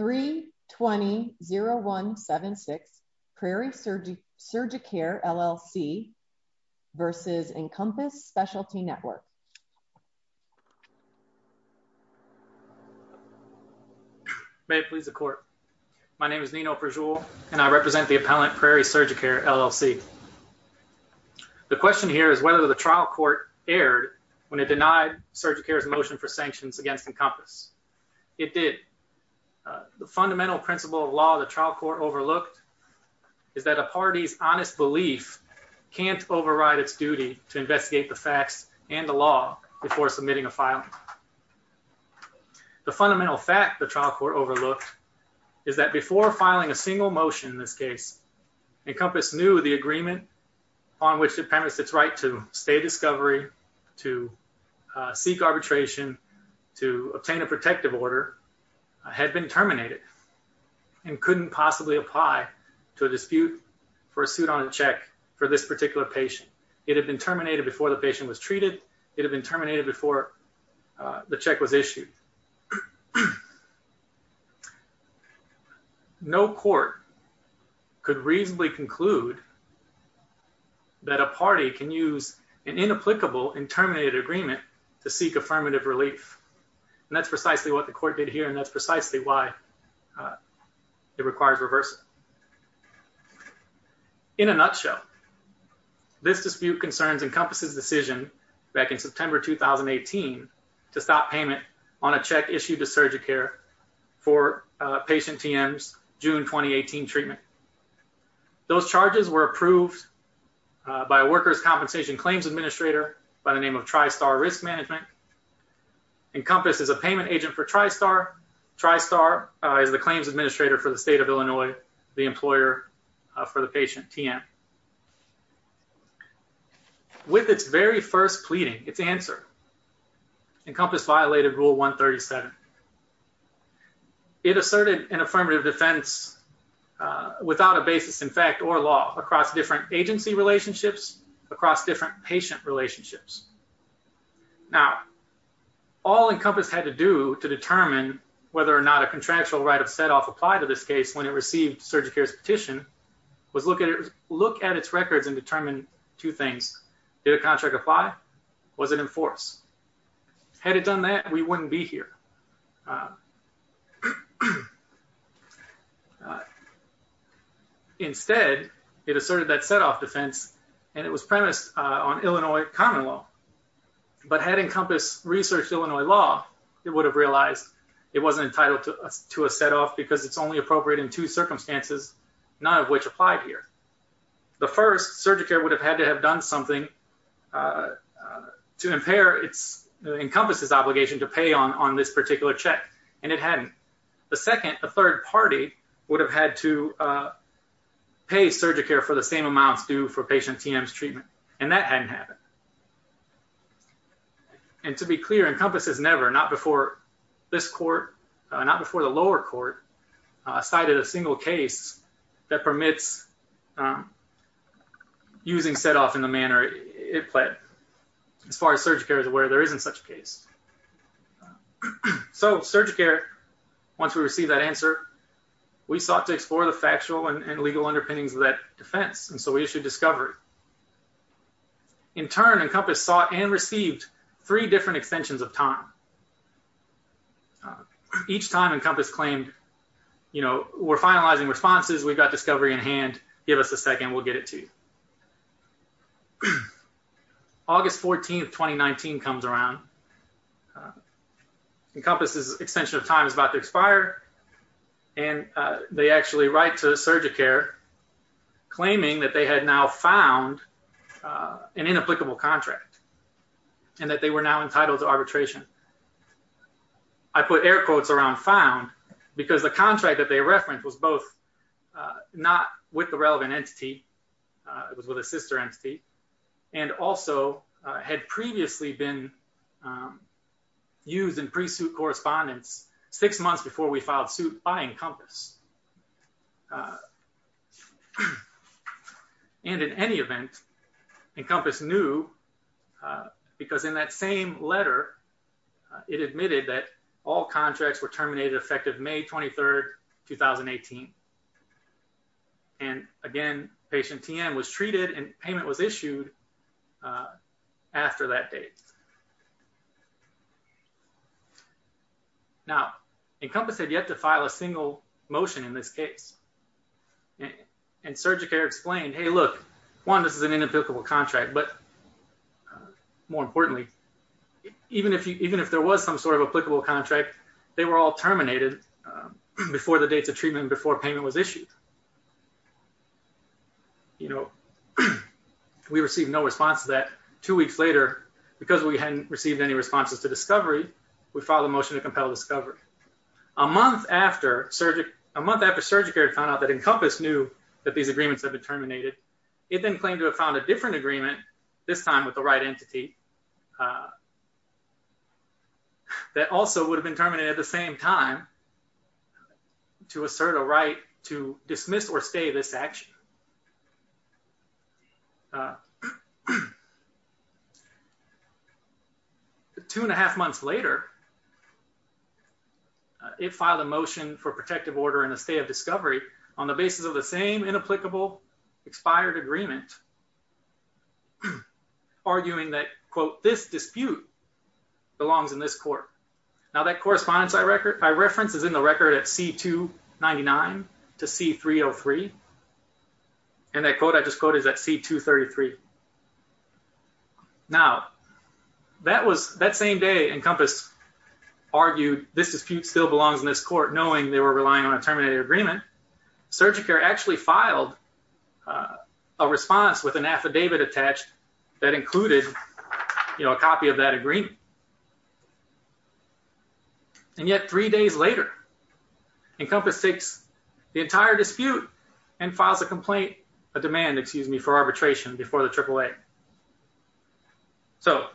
320176 Prairie Surgicare, LLC v. Encompass Specialty Network. May it please the court. My name is Nino Perjul and I represent the appellant Prairie Surgicare, LLC. The question here is whether the trial court erred when it denied Surgicare's motion for the fundamental principle of law the trial court overlooked is that a party's honest belief can't override its duty to investigate the facts and the law before submitting a file. The fundamental fact the trial court overlooked is that before filing a single motion in this case Encompass knew the agreement on which it permits its right to stay discovery, to had been terminated and couldn't possibly apply to a dispute for a suit on a check for this particular patient. It had been terminated before the patient was treated. It had been terminated before the check was issued. No court could reasonably conclude that a party can use an inapplicable and terminated agreement to seek affirmative relief. And that's precisely what the court did here and that's precisely why it requires reversal. In a nutshell, this dispute concerns Encompass's decision back in September 2018 to stop payment on a check issued to Surgicare for patient TM's June 2018 treatment. Those charges were approved by a workers' compensation claims administrator by the name of TriStar Risk Management. Encompass is a payment agent for TriStar. TriStar is the claims administrator for the state of Illinois, the employer for the patient TM. With its very first pleading, its answer, Encompass violated rule 137. It asserted an affirmative defense without a basis in fact or law across different agency relationships, across different patient relationships. Now, all Encompass had to do to determine whether or not a contractual right of setoff applied to this case when it received Surgicare's petition was look at its records and determine two things. Did a contract apply? Was it in force? Had it done that, we wouldn't be here. Instead, it asserted that setoff defense and it was premised on Illinois common law, but had Encompass researched Illinois law, it would have realized it wasn't entitled to a setoff because it's only appropriate in two circumstances, none of which applied here. The first, Surgicare would have had to have done something to impair Encompass's obligation to pay on this particular check, and it hadn't. The second, a third party would have had to pay Surgicare for the same amounts due for patient TM's treatment, and that hadn't happened. And to be clear, Encompass has never, not before this court, not before the lower court, cited a single case that permits using setoff in the manner it pled. As far as Surgicare is aware, there isn't such a case. So Surgicare, once we received that answer, we sought to explore the factual and legal underpinnings of that defense, and so we issued discovery. In turn, Encompass sought and received three different extensions of time. Each time, Encompass claimed, you know, we're finalizing responses, we've got discovery in hand, give us a second, we'll get it to you. August 14th, 2019 comes around. Encompass's extension of time is about to expire, and they actually write to Surgicare claiming that they had now found an inapplicable contract and that they were now entitled to arbitration. I put air quotes around found because the contract that they referenced was both not with the relevant entity, it was with a sister entity, and also had previously been used in pre-suit correspondence six months before we filed suit by Encompass. And in any event, Encompass knew because in that same letter it admitted that all contracts were terminated effective May 23rd, 2018. And again, patient TM was treated and payment was issued after that date. Now, Encompass had yet to file a single motion in this case, and Surgicare explained, hey, look, one, this is an inapplicable contract, but more importantly, even if there was some sort of applicable contract, they were all terminated before the dates of treatment before payment was issued. And, you know, we received no response to that. Two weeks later, because we hadn't received any responses to discovery, we filed a motion to compel discovery. A month after Surgicare found out that Encompass knew that these agreements had been terminated, it then claimed to have found a different agreement, this time with the right entity, that also would have been terminated at the same time to assert a right to dismiss or stay this action. Two and a half months later, it filed a motion for protective order in the state of discovery on the basis of the same inapplicable expired agreement, arguing that, quote, this dispute belongs in this court. Now, that correspondence I reference is in the record at C-299 to C-303, and that quote I just quoted is at C-233. Now, that same day, Encompass argued this dispute still belongs in this court, knowing they were relying on a with an affidavit attached that included, you know, a copy of that agreement. And yet, three days later, Encompass takes the entire dispute and files a complaint, a demand, excuse me, for arbitration before the AAA. So,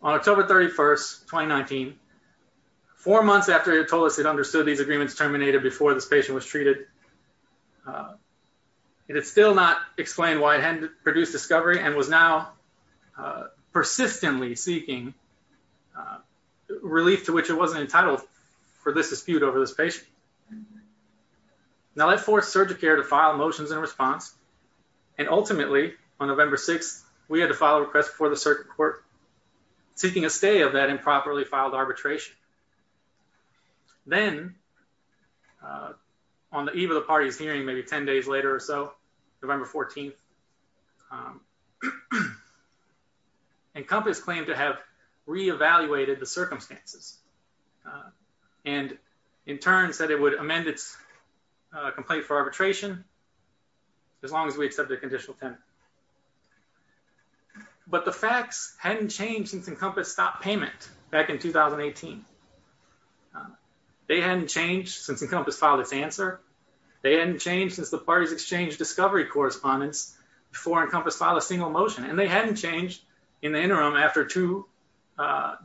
on October 31st, 2019, four months after it told us it understood these agreements terminated before this patient was produced discovery and was now persistently seeking relief to which it wasn't entitled for this dispute over this patient. Now, that forced Surgicare to file motions in response, and ultimately, on November 6th, we had to file a request before the circuit court seeking a stay of that improperly filed arbitration. Then, on the eve of the party's November 14th, Encompass claimed to have re-evaluated the circumstances, and in turn said it would amend its complaint for arbitration as long as we accept the conditional tenant. But the facts hadn't changed since Encompass stopped payment back in 2018. They hadn't changed since Encompass filed its answer. They hadn't changed since the party's exchange discovery correspondence before Encompass filed a single motion, and they hadn't changed in the interim after two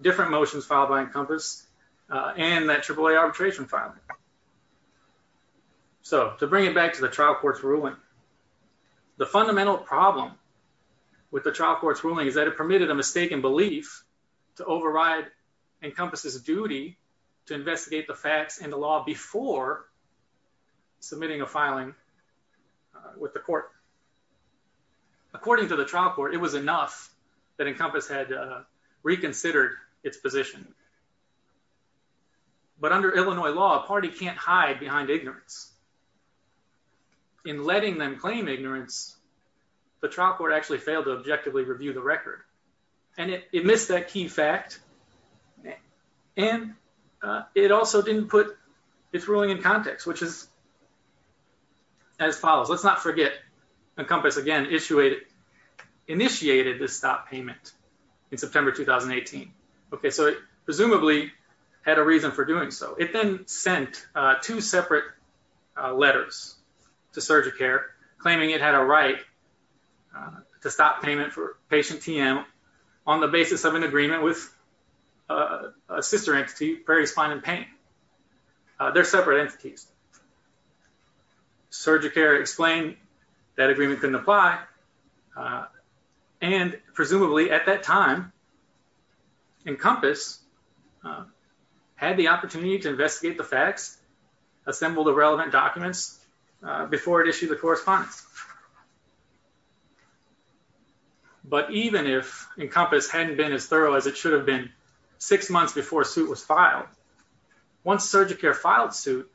different motions filed by Encompass and that AAA arbitration filing. So, to bring it back to the trial court's ruling, the fundamental problem with the trial court's ruling is that it permitted a mistaken belief to override Encompass's duty to investigate the facts and the law before submitting a filing with the court. According to the trial court, it was enough that Encompass had reconsidered its position. But under Illinois law, a party can't hide behind ignorance. In letting them claim ignorance, the trial court actually failed to objectively review the record, and it missed that key fact, and it also didn't put its ruling in context, which is as follows. Let's not forget Encompass again initiated this stop payment in September 2018. Okay, so it presumably had a reason for doing so. It then sent two separate letters to Surgicare claiming it had a right to stop payment for patient TM on the basis of an agreement with a sister entity, Prairie Spine and Pain. They're separate entities. Surgicare explained that agreement couldn't apply, and presumably at that time, Encompass had the opportunity to investigate the facts, assemble the relevant documents, before it issued the correspondence. But even if Encompass hadn't been as thorough as it should have been six months before suit was filed, once Surgicare filed suit,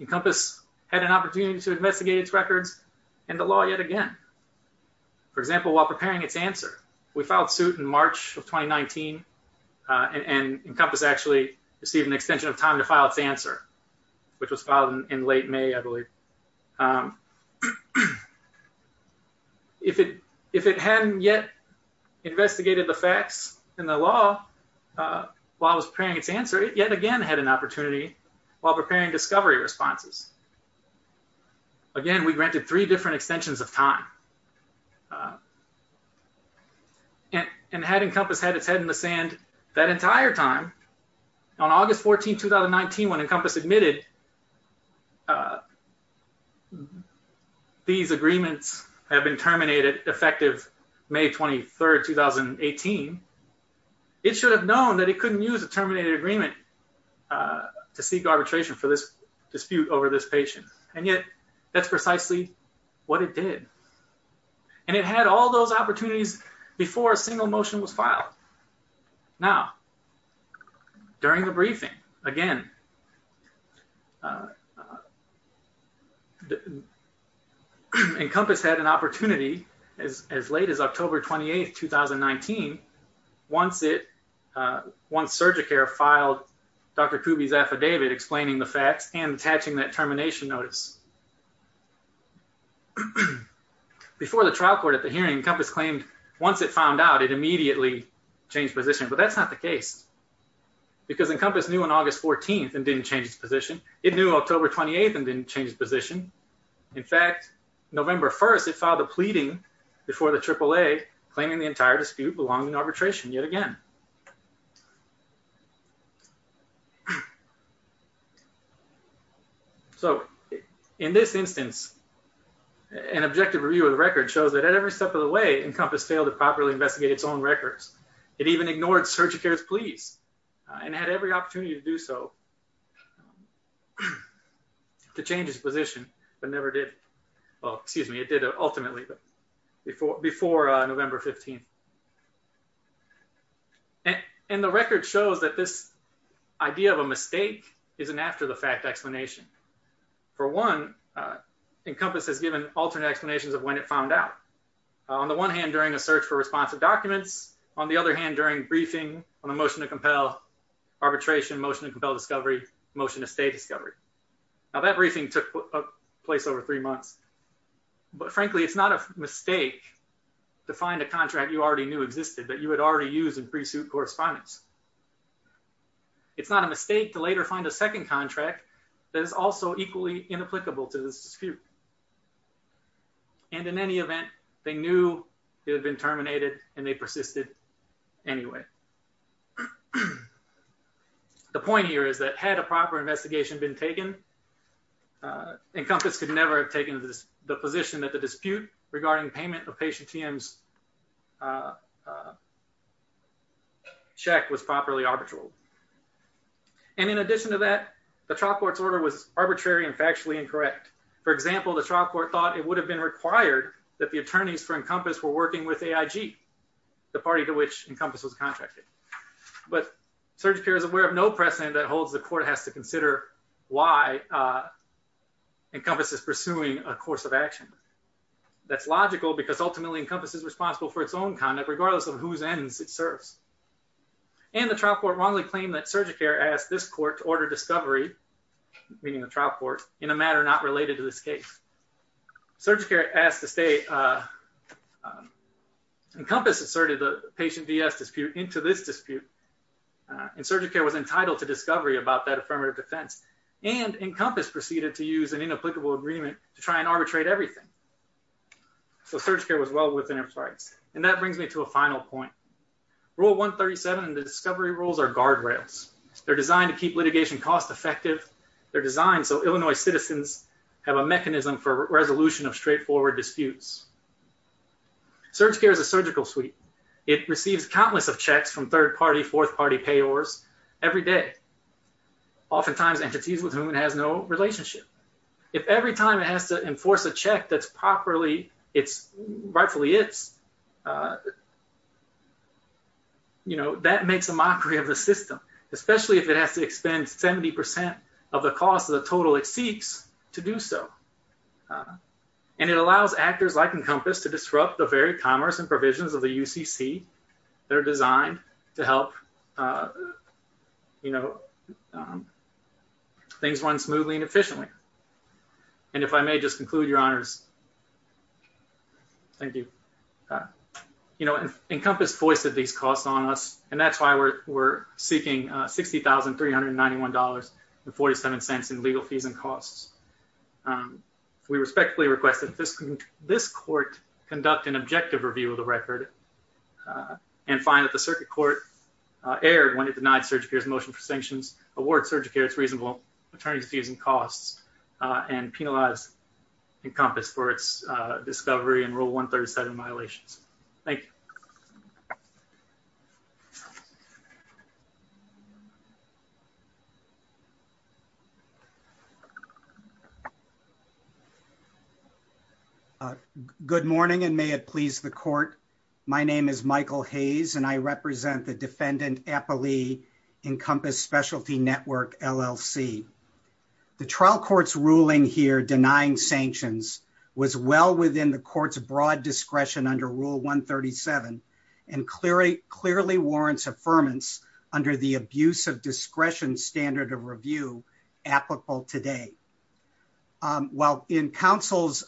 Encompass had an opportunity to investigate its records and the law yet again. For example, while preparing its answer, we filed suit in March of 2019, and Encompass actually received an extension of time to file its answer, which was filed in late May, I believe. If it hadn't yet investigated the facts and the law while preparing its answer, it yet again had an opportunity while preparing discovery responses. Again, we granted three different extensions of time. And had Encompass had its head in the sand that entire time, on August 14, 2019, when Encompass admitted these agreements have been terminated effective May 23, 2018, it should have known that it couldn't use a terminated agreement to seek arbitration for this dispute over this patient. And yet, that's precisely what it did. And it had all those opportunities before a single motion was made. Encompass had an opportunity as late as October 28, 2019, once Surgicare filed Dr. Kuby's affidavit explaining the facts and attaching that termination notice. Before the trial court at the hearing, Encompass claimed once it found out it immediately changed position, but that's not the case. Because Encompass knew on August 14 and didn't change its position. It knew October 28 and didn't change its position. In fact, November 1, it filed a pleading before the AAA claiming the entire dispute belonging to arbitration yet again. So, in this instance, an objective review of the record shows that at every step of the way, Encompass failed to properly investigate its own records. It even ignored Surgicare's pleas and had every opportunity to do so to change its position, but never did. Well, excuse me, it did it ultimately, but before November 15. And the record shows that this idea of a mistake is an after-the-fact explanation. For one, Encompass has given alternate explanations of when it found out. On the one hand, during a search for responsive documents, on the other hand, during briefing on a motion to compel arbitration, motion to compel discovery, motion to stay discovery. Now, that briefing took place over three months, but frankly, it's not a mistake to find a contract you already knew existed that you had already used in pre-suit correspondence. It's not a mistake to later find a second contract that is also equally inapplicable to this dispute. And in any event, they knew it had been terminated and they persisted anyway. The point here is that had a proper investigation been taken, Encompass could never have taken the position that the dispute regarding payment of Patient TM's check was properly arbitral. And in addition to that, the trial court's order was arbitrary and factually incorrect. For example, the trial court thought it would have been required that the attorneys for Encompass were working with AIG, the party to which Encompass was contracted. But Surgicare is aware of no precedent that holds the court has to consider why Encompass is pursuing a course of action. That's logical because ultimately Encompass is responsible for its own conduct, regardless of whose ends it serves. And the trial court wrongly claimed that Surgicare asked this court to order discovery, meaning the trial court, in a matter not related to this case. Surgicare asked to stay. Encompass asserted the Patient DS dispute into this dispute. And Surgicare was entitled to discovery about that affirmative defense. And Encompass proceeded to use an inapplicable agreement to try and arbitrate everything. So Surgicare was well within its rights. And that brings me to a final point. Rule 137 and the discovery rules are guardrails. They're designed to keep litigation cost effective. They're designed so Illinois citizens have a mechanism for resolution of straightforward disputes. Surgicare is a surgical suite. It receives countless of checks from third-party, fourth-party payors every day, oftentimes entities with whom it has no relationship. If every time it has to enforce a check that's properly, it's rightfully its, you know, that makes a mockery of the system, especially if it has to expend 70% of the cost of the total it seeks to do so. And it allows actors like Encompass to disrupt the very commerce and provisions of the UCC. They're designed to help, you know, things run smoothly and efficiently. And if I may just conclude, Your Honors. Thank you. You know, Encompass foisted these costs on us, and that's why we're seeking $60,391.47 in legal fees and costs. We respectfully request that this court conduct an objective review of the record and find that the circuit court erred when it denied Surgicare's motion for sanctions, award Surgicare's reasonable attorney's fees and costs, and penalize Encompass for its discovery in Rule 137 violations. Thank you. Good morning, and may it please the court. My name is Michael Hayes, and I represent the Defendant Appalee Encompass Specialty Network, LLC. The trial court's ruling here denying sanctions was well within the court's broad discretion under Rule 137 and clearly warrants affirmance under the abuse of discretion standard of review applicable today. While in counsel's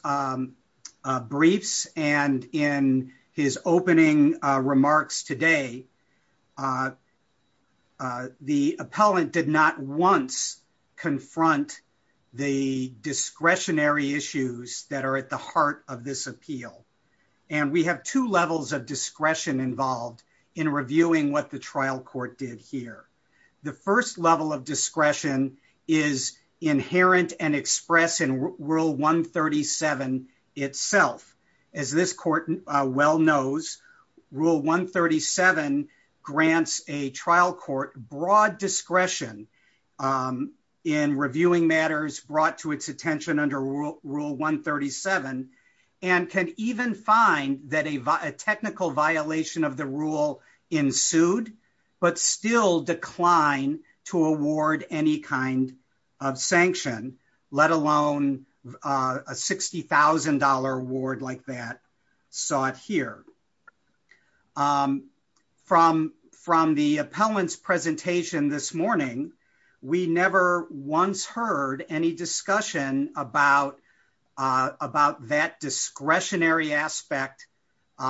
briefs and in his opening remarks today, the appellant did not once confront the discretionary issues that are at the heart of this appeal. And we have two levels of discretion involved in reviewing what the trial court did here. The first level of discretion is inherent and expressed in Rule 137 itself. As this court well knows, Rule 137 grants a trial court broad discretion in reviewing matters brought to its attention under Rule 137 and can even find that a technical violation of the rule ensued, but still declined to award any kind of sanction, let alone a $60,000 award like that sought here. From the appellant's presentation this morning, we never once heard any discussion about that discretionary aspect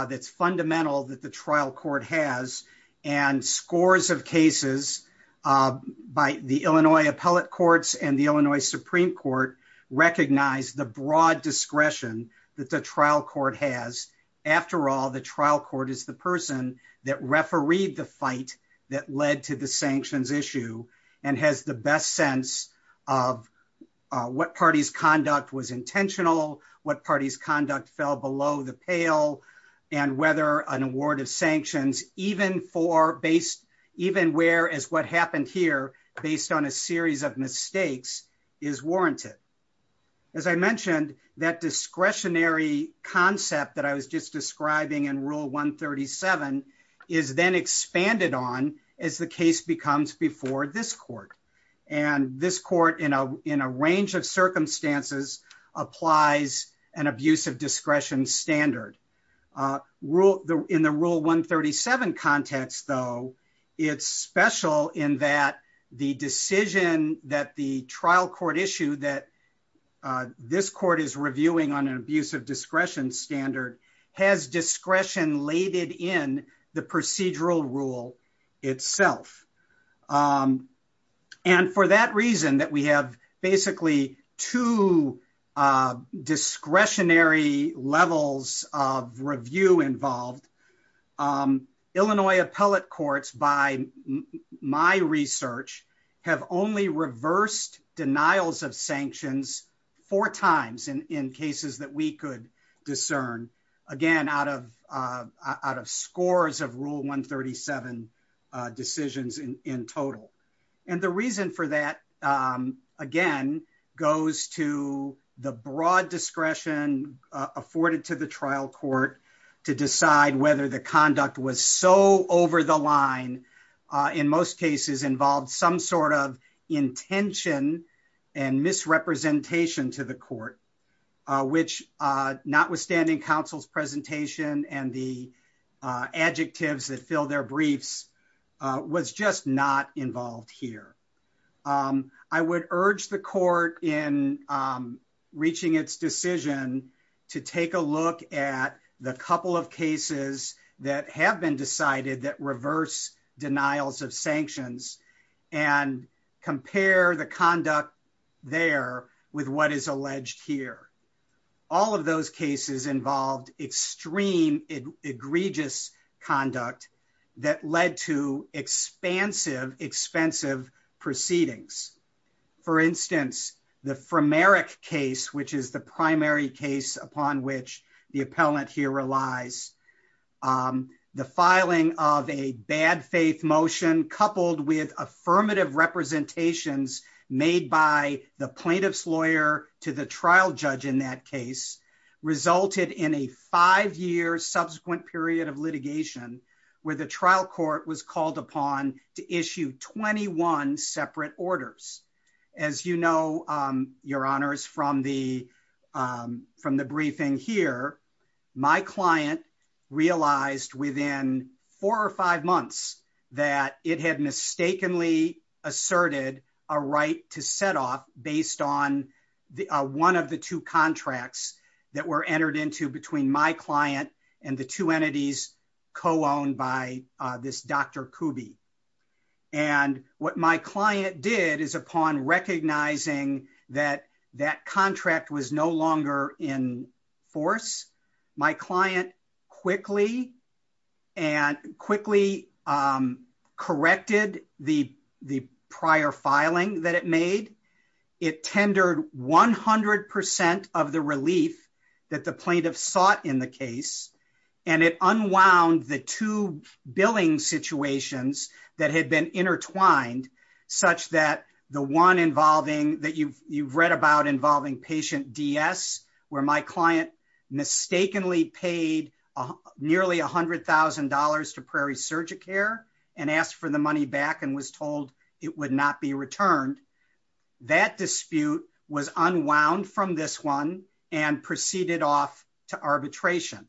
that's fundamental that the trial court has and scores of cases by the Illinois appellate courts and the Illinois Supreme Court recognize the broad discretion that the trial court has. After all, the trial court is the person that refereed the fight that led to the sanctions issue and has the best sense of what party's conduct was intentional, what party's conduct fell below the pale, and whether an award of sanctions, even where as what happened here, based on a series of mistakes is warranted. As I mentioned, that discretionary concept that I was just describing in Rule 137 is then expanded on as the case becomes before this court. And this court in a range of circumstances applies an abuse of discretion standard. In the Rule 137 context, though, it's special in that the decision that the trial court issued that this court is reviewing on an abuse of discretion standard has discretion laid in the procedural rule itself. And for that reason that we have basically two discretionary levels of review involved, Illinois appellate courts, by my research, have only reversed denials of sanctions four times in cases that we could discern, again, out of scores of Rule 137 decisions in total. And the reason for that again, goes to the broad discretion afforded to the trial court to decide whether the conduct was so over the line, in most cases involved some sort of intention and misrepresentation to the court, which notwithstanding counsel's presentation and the adjectives that fill their briefs, was just not involved here. I would urge the court in reaching its decision to take a look at the couple of cases that have been decided that reverse denials of sanctions and compare the conduct there with what is alleged here. All of those cases involved extreme egregious conduct that led to expansive, expensive proceedings. For instance, the Frimeric case, which is the primary case upon which the appellant here relies, the filing of a bad faith motion coupled with affirmative representations made by the plaintiff's lawyer to the trial judge in that resulted in a five-year subsequent period of litigation where the trial court was called upon to issue 21 separate orders. As you know, your honors, from the briefing here, my client realized within four or five months that it had mistakenly asserted a right to set off based on one of the two contracts that were entered into between my client and the two entities co-owned by this Dr. Kuby. And what my client did is upon recognizing that that contract was no longer in force, my client quickly corrected the prior filing that it made. It tendered 100% of the relief that the plaintiff sought in the case, and it unwound the two billing situations that had been intertwined such that the one involving that you've read about involving patient DS, where my client mistakenly paid nearly $100,000 to Prairie Surgicare and asked for the money back and was told it would not be returned. That dispute was unwound from this one and proceeded off to arbitration.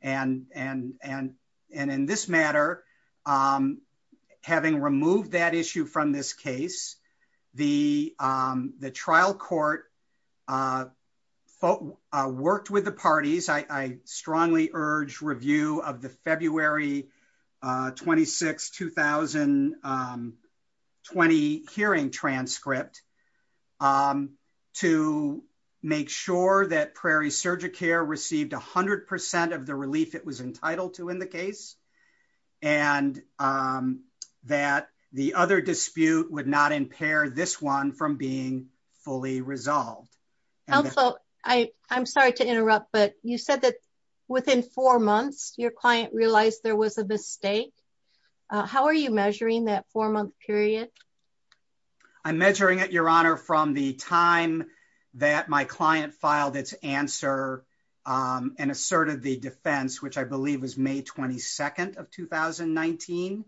And in this matter, having removed that issue from this case, the trial court worked with the parties. I strongly urge review of the February 26, 2020 hearing transcript to make sure that Prairie Surgicare received 100% of the relief it was entitled to in the case, and that the other dispute would not impair this one from being fully resolved. I'm sorry to interrupt, but you said that within four months, your client realized there was a mistake. How are you measuring that four-month period? I'm measuring it, Your Honor, from the time that my client filed its answer and asserted the defense, which I believe was May 22 of 2019.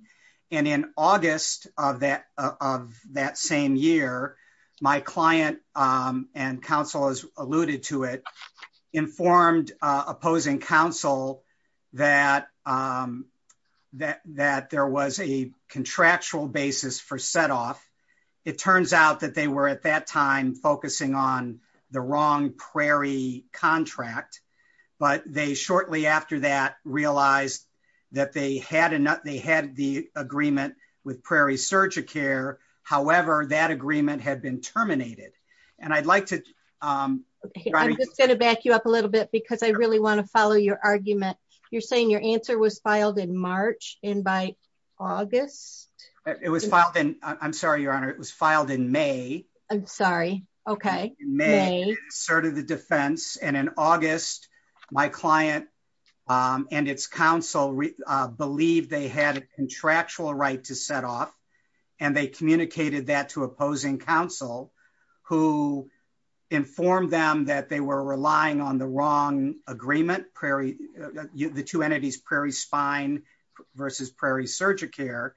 And in August of that same year, my client and counsel, as alluded to it, informed opposing counsel that there was a contractual but they shortly after that realized that they had the agreement with Prairie Surgicare. However, that agreement had been terminated. I'm just going to back you up a little bit because I really want to follow your argument. You're saying your answer was filed in March and by August? It was filed in, I'm sorry, Your Honor, it was filed in May. I'm sorry, okay. May, asserted the defense. And in August, my client and its counsel believed they had a contractual right to set off and they communicated that to opposing counsel who informed them that they were relying on the wrong agreement, the two entities, Prairie Spine versus Prairie Surgicare,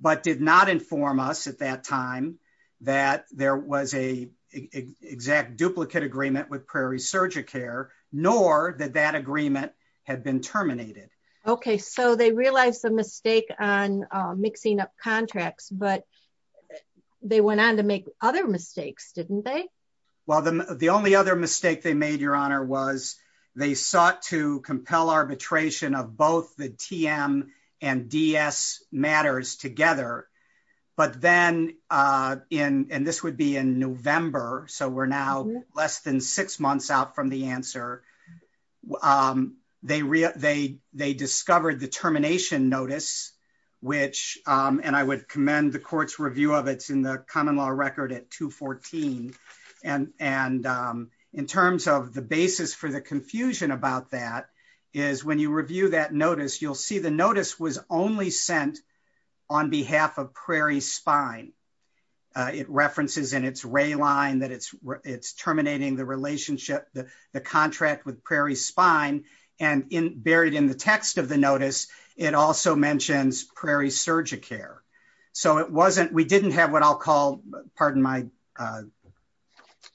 but did not inform us at that time that there was a exact duplicate agreement with Prairie Surgicare, nor that that agreement had been terminated. Okay. So they realized the mistake on mixing up contracts, but they went on to make other mistakes, didn't they? Well, the only other mistake they made, Your Honor, was they sought to compel arbitration of both the TM and DS matters together. But then, and this would be in November, so we're now less than six months out from the answer, they discovered the termination notice, which, and I would commend the court's review of it's common law record at 214, and in terms of the basis for the confusion about that, is when you review that notice, you'll see the notice was only sent on behalf of Prairie Spine. It references in its ray line that it's terminating the relationship, the contract with Prairie Spine, and buried in the text of the notice, it also mentions Prairie Surgicare. So it wasn't, we didn't have what I'll call, pardon my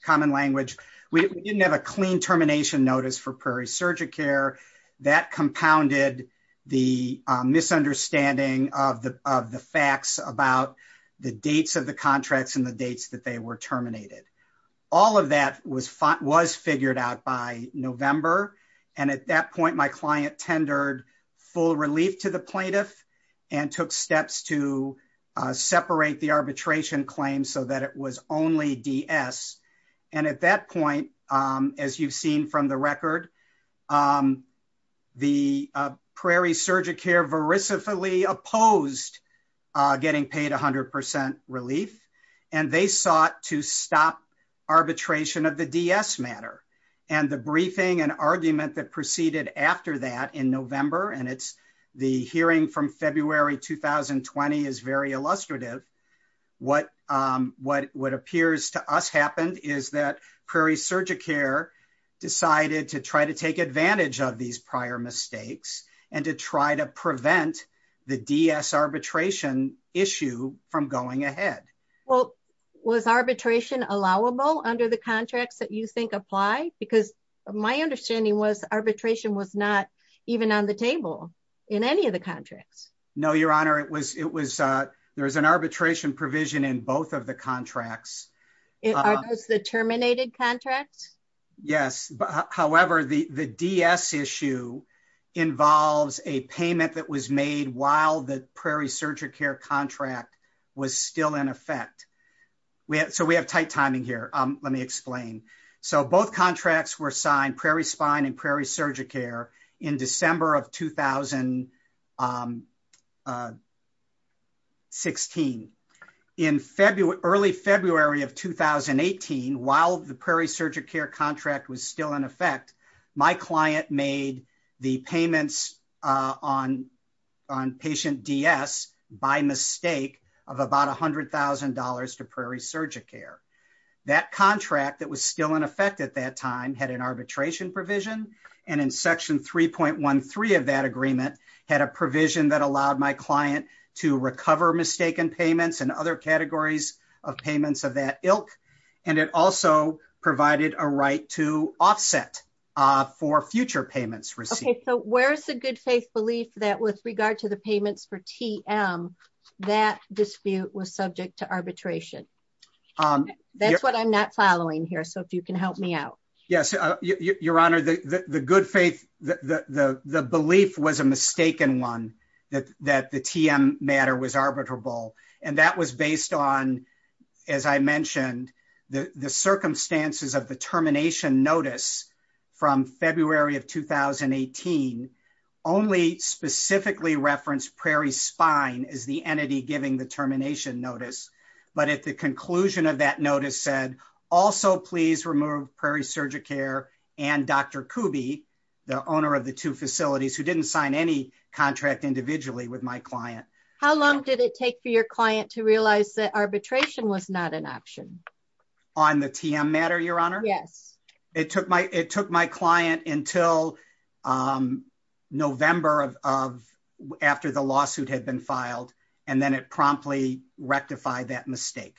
common language, we didn't have a clean termination notice for Prairie Surgicare. That compounded the misunderstanding of the facts about the dates of the contracts and the dates that they were terminated. All of that was figured out by November, and at that point, my client tendered full relief to the plaintiff and took steps to separate the arbitration claim so that it was only DS, and at that point, as you've seen from the record, the Prairie Surgicare verisimply opposed getting paid 100% relief, and they sought to stop arbitration of the DS matter, and the briefing and argument that is very illustrative, what appears to us happened is that Prairie Surgicare decided to try to take advantage of these prior mistakes and to try to prevent the DS arbitration issue from going ahead. Well, was arbitration allowable under the contracts that you think apply? Because my understanding was arbitration was not even on the table in any of the contracts. No, Your Honor. There was an arbitration provision in both of the contracts. Are those the terminated contracts? Yes. However, the DS issue involves a payment that was made while the Prairie Surgicare contract was still in effect. So we have tight timing here. Let me explain. So both contracts were in February of 2016. In early February of 2018, while the Prairie Surgicare contract was still in effect, my client made the payments on patient DS by mistake of about $100,000 to Prairie Surgicare. That contract that was still in effect at that time had an arbitration provision, and in section 3.13 of that agreement had a provision that allowed my client to recover mistaken payments and other categories of payments of that ilk. And it also provided a right to offset for future payments received. So where's the good faith belief that with regard to the payments for TM, that dispute was subject to arbitration? That's what I'm not following here. So if you can help me out. Yes. Your Honor, the good faith, the belief was a mistaken one that the TM matter was arbitrable. And that was based on, as I mentioned, the circumstances of the termination notice from February of 2018 only specifically referenced Prairie Spine as the entity giving the termination notice. But at the conclusion of that notice said, also please remove Prairie Surgicare and Dr. Kuby, the owner of the two facilities who didn't sign any contract individually with my client. How long did it take for your client to realize that arbitration was not an option? On the TM matter, Your Honor? Yes. It took my client until November of after the promptly rectified that mistake.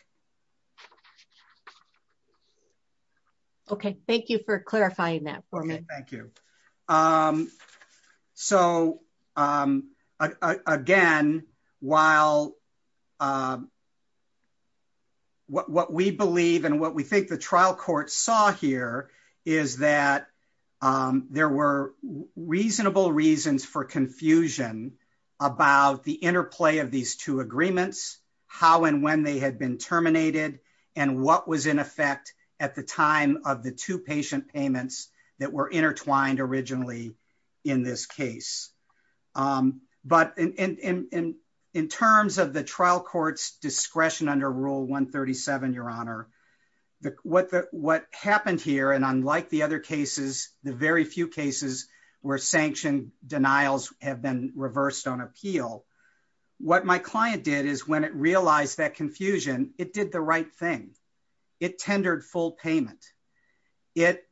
Okay. Thank you for clarifying that for me. Thank you. So again, while what we believe and what we think the trial court saw here is that there were reasonable reasons for confusion about the interplay of these two agreements, how and when they had been terminated, and what was in effect at the time of the two patient payments that were intertwined originally in this case. But in terms of the trial court's discretion under rule 137, Your Honor, what happened here and unlike the other cases, the very few cases where sanctioned denials have been reversed on appeal, what my client did is when it realized that confusion, it did the right thing. It tendered full payment. It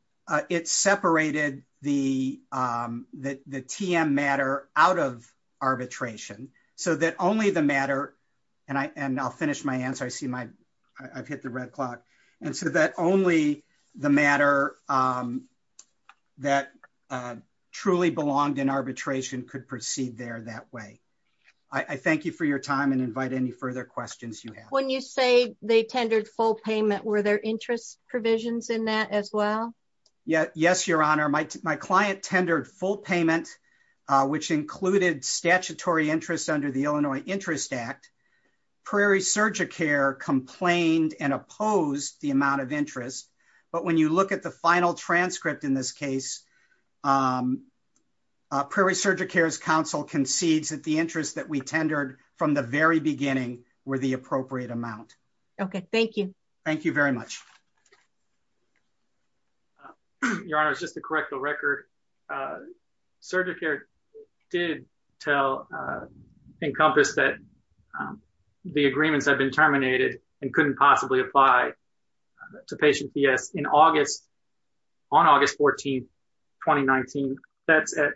separated the TM matter out of arbitration so that only the matter, and I'll finish my answer. I've hit the red clock. And so that only the matter that truly belonged in arbitration could proceed there that way. I thank you for your time and invite any further questions you have. When you say they tendered full payment, were there interest provisions in that as well? Yes, Your Honor. My client tendered full payment, which included statutory interest under the rule 137. And so, yes, Prairie Surgicare complained and opposed the amount of interest. But when you look at the final transcript in this case, Prairie Surgicare's counsel concedes that the interest that we tendered from the very beginning were the appropriate amount. Okay, thank you. Thank you very much. Your Honor, just to correct the record, Surgicare did tell Encompass that the agreements have been terminated and couldn't possibly apply to patient PS in August, on August 14, 2019. That's at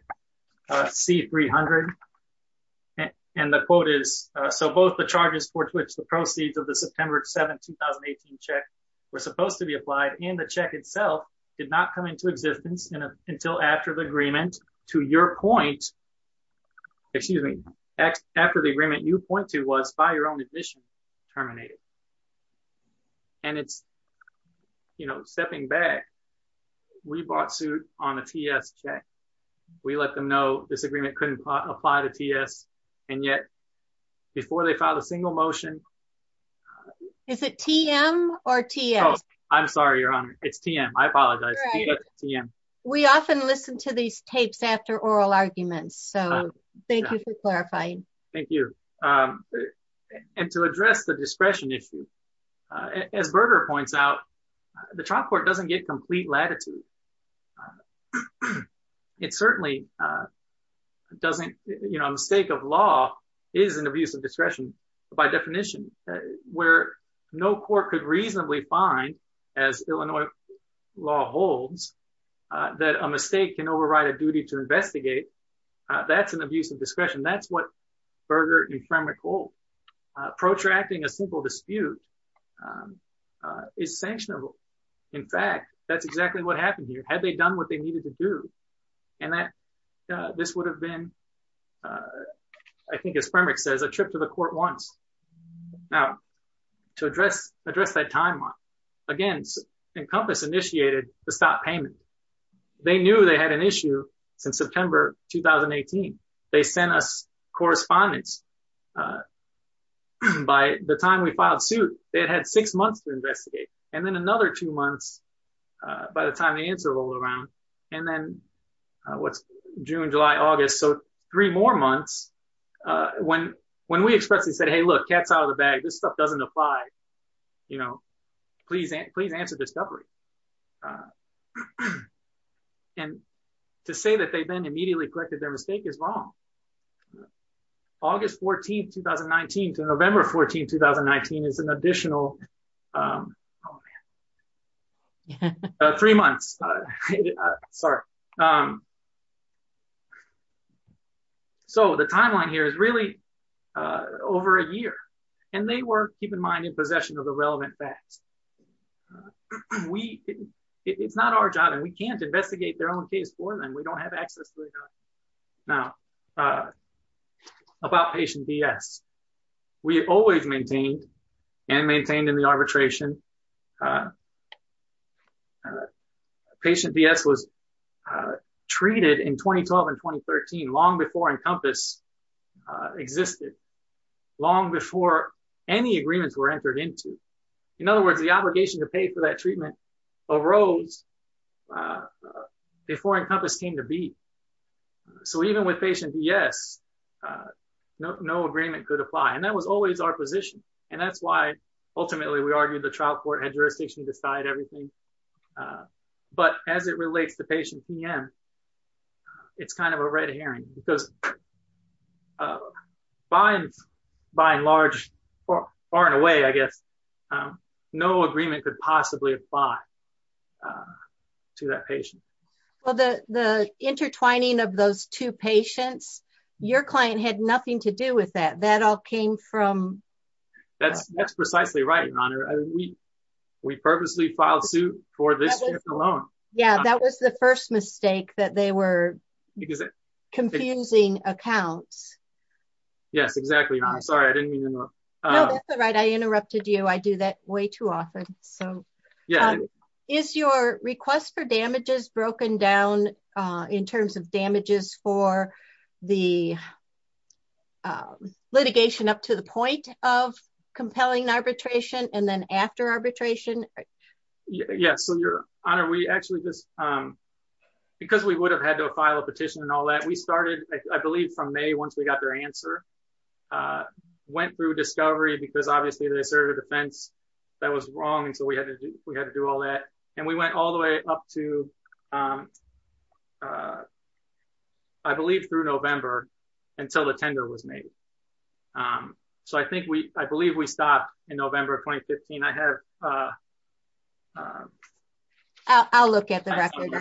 C300. And the quote is, so both the charges for which the proceeds of the September 7, 2018 check were supposed to be applied and the check itself did not come into existence until after the agreement to your point, excuse me, after the agreement you point to was by your own admission terminated. And it's, you know, stepping back, we bought suit on a TS check. We let them know this agreement couldn't apply to TS. And yet, before they filed a single motion, is it TM or TS? I'm sorry, Your Honor. It's TM. I apologize. We often listen to these tapes after oral arguments. So thank you for clarifying. Thank you. And to address the discretion issue, as Berger points out, the trial court doesn't get complete latitude. It certainly doesn't, you know, mistake of law is an abuse of discretion, by definition, where no court could reasonably find, as Illinois law holds, that a mistake can override a duty to investigate. That's an abuse of discretion. That's what Berger and Fremick hold. Protracting a simple dispute is sanctionable. In fact, that's exactly what happened here. Had they done what they needed to do, and that this would have been, I think, as Fremick says, a trip to the court once. Now, to address that timeline, again, Encompass initiated the stop payment. They knew they had an issue since September 2018. They sent us correspondence. By the time we filed suit, they had had six months to investigate, and then another two months by the time the answer rolled around, and then what's June, July, August. So three more months when we expressly said, hey, look, cat's out of the bag. This stuff doesn't apply. You know, please answer discovery. And to say that they then immediately corrected their mistake is wrong. August 14, 2019 to November 14, 2019 is an additional three months. Sorry. So the timeline here is really over a year, and they were, keep in mind, in possession of the relevant facts. It's not our job, and we can't investigate their own case for them. We don't have access to it. Now, about patient BS. We always maintained, and maintained in the arbitration, patient BS was treated in 2012 and 2013, long before Encompass existed, long before any agreements were entered into. In other words, the obligation to pay for that So even with patient BS, no agreement could apply, and that was always our position, and that's why, ultimately, we argued the trial court had jurisdiction to decide everything. But as it relates to patient PM, it's kind of a red herring, because by and large, or far and away, I guess, no agreement could possibly apply to that patient. Well, the intertwining of those two patients, your client had nothing to do with that. That all came from... That's precisely right, Your Honor. We purposely filed suit for this alone. Yeah, that was the first mistake, that they were confusing accounts. Yes, exactly. I'm sorry. I didn't mean to interrupt. No, that's all right. I interrupted you. I do that way too often. So is your request for damages broken down in terms of damages for the litigation up to the point of compelling arbitration, and then after arbitration? Yeah. So, Your Honor, we actually just... Because we would have had to file a petition and all that, we started, I believe, from May, once we got their answer. Went through discovery, because obviously, they served a defense that was wrong, and so we had to do all that. And we went all the way up to, I believe, through November, until the tender was made. So I think we... I believe we stopped in November of 2015. I have... I'll look at the record.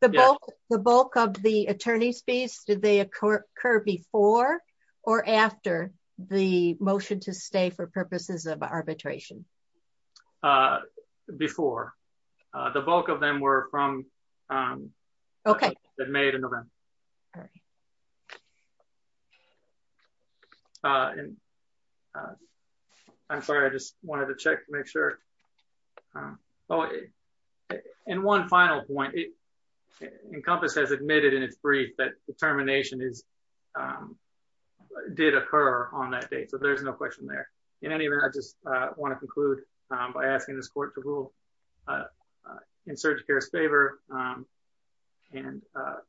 The bulk of the attorney's fees, did they occur before or after the motion to stay for purposes of arbitration? Before. The bulk of them were from... Okay. ...that made in November. I'm sorry. I just wanted to check to make sure. Oh, and one final point. Encompass has admitted in its brief that determination is... Did occur on that date, so there's no question there. In any event, I just want to conclude by asking this court to rule in Surgeon Kerr's favor and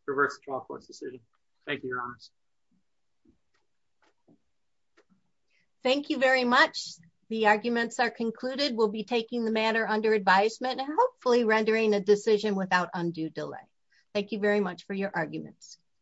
reverse the trial court's decision. Thank you, Your Honors. Thank you very much. The arguments are concluded. We'll be taking the matter under advisement and hopefully rendering a decision without undue delay. Thank you very much for your arguments.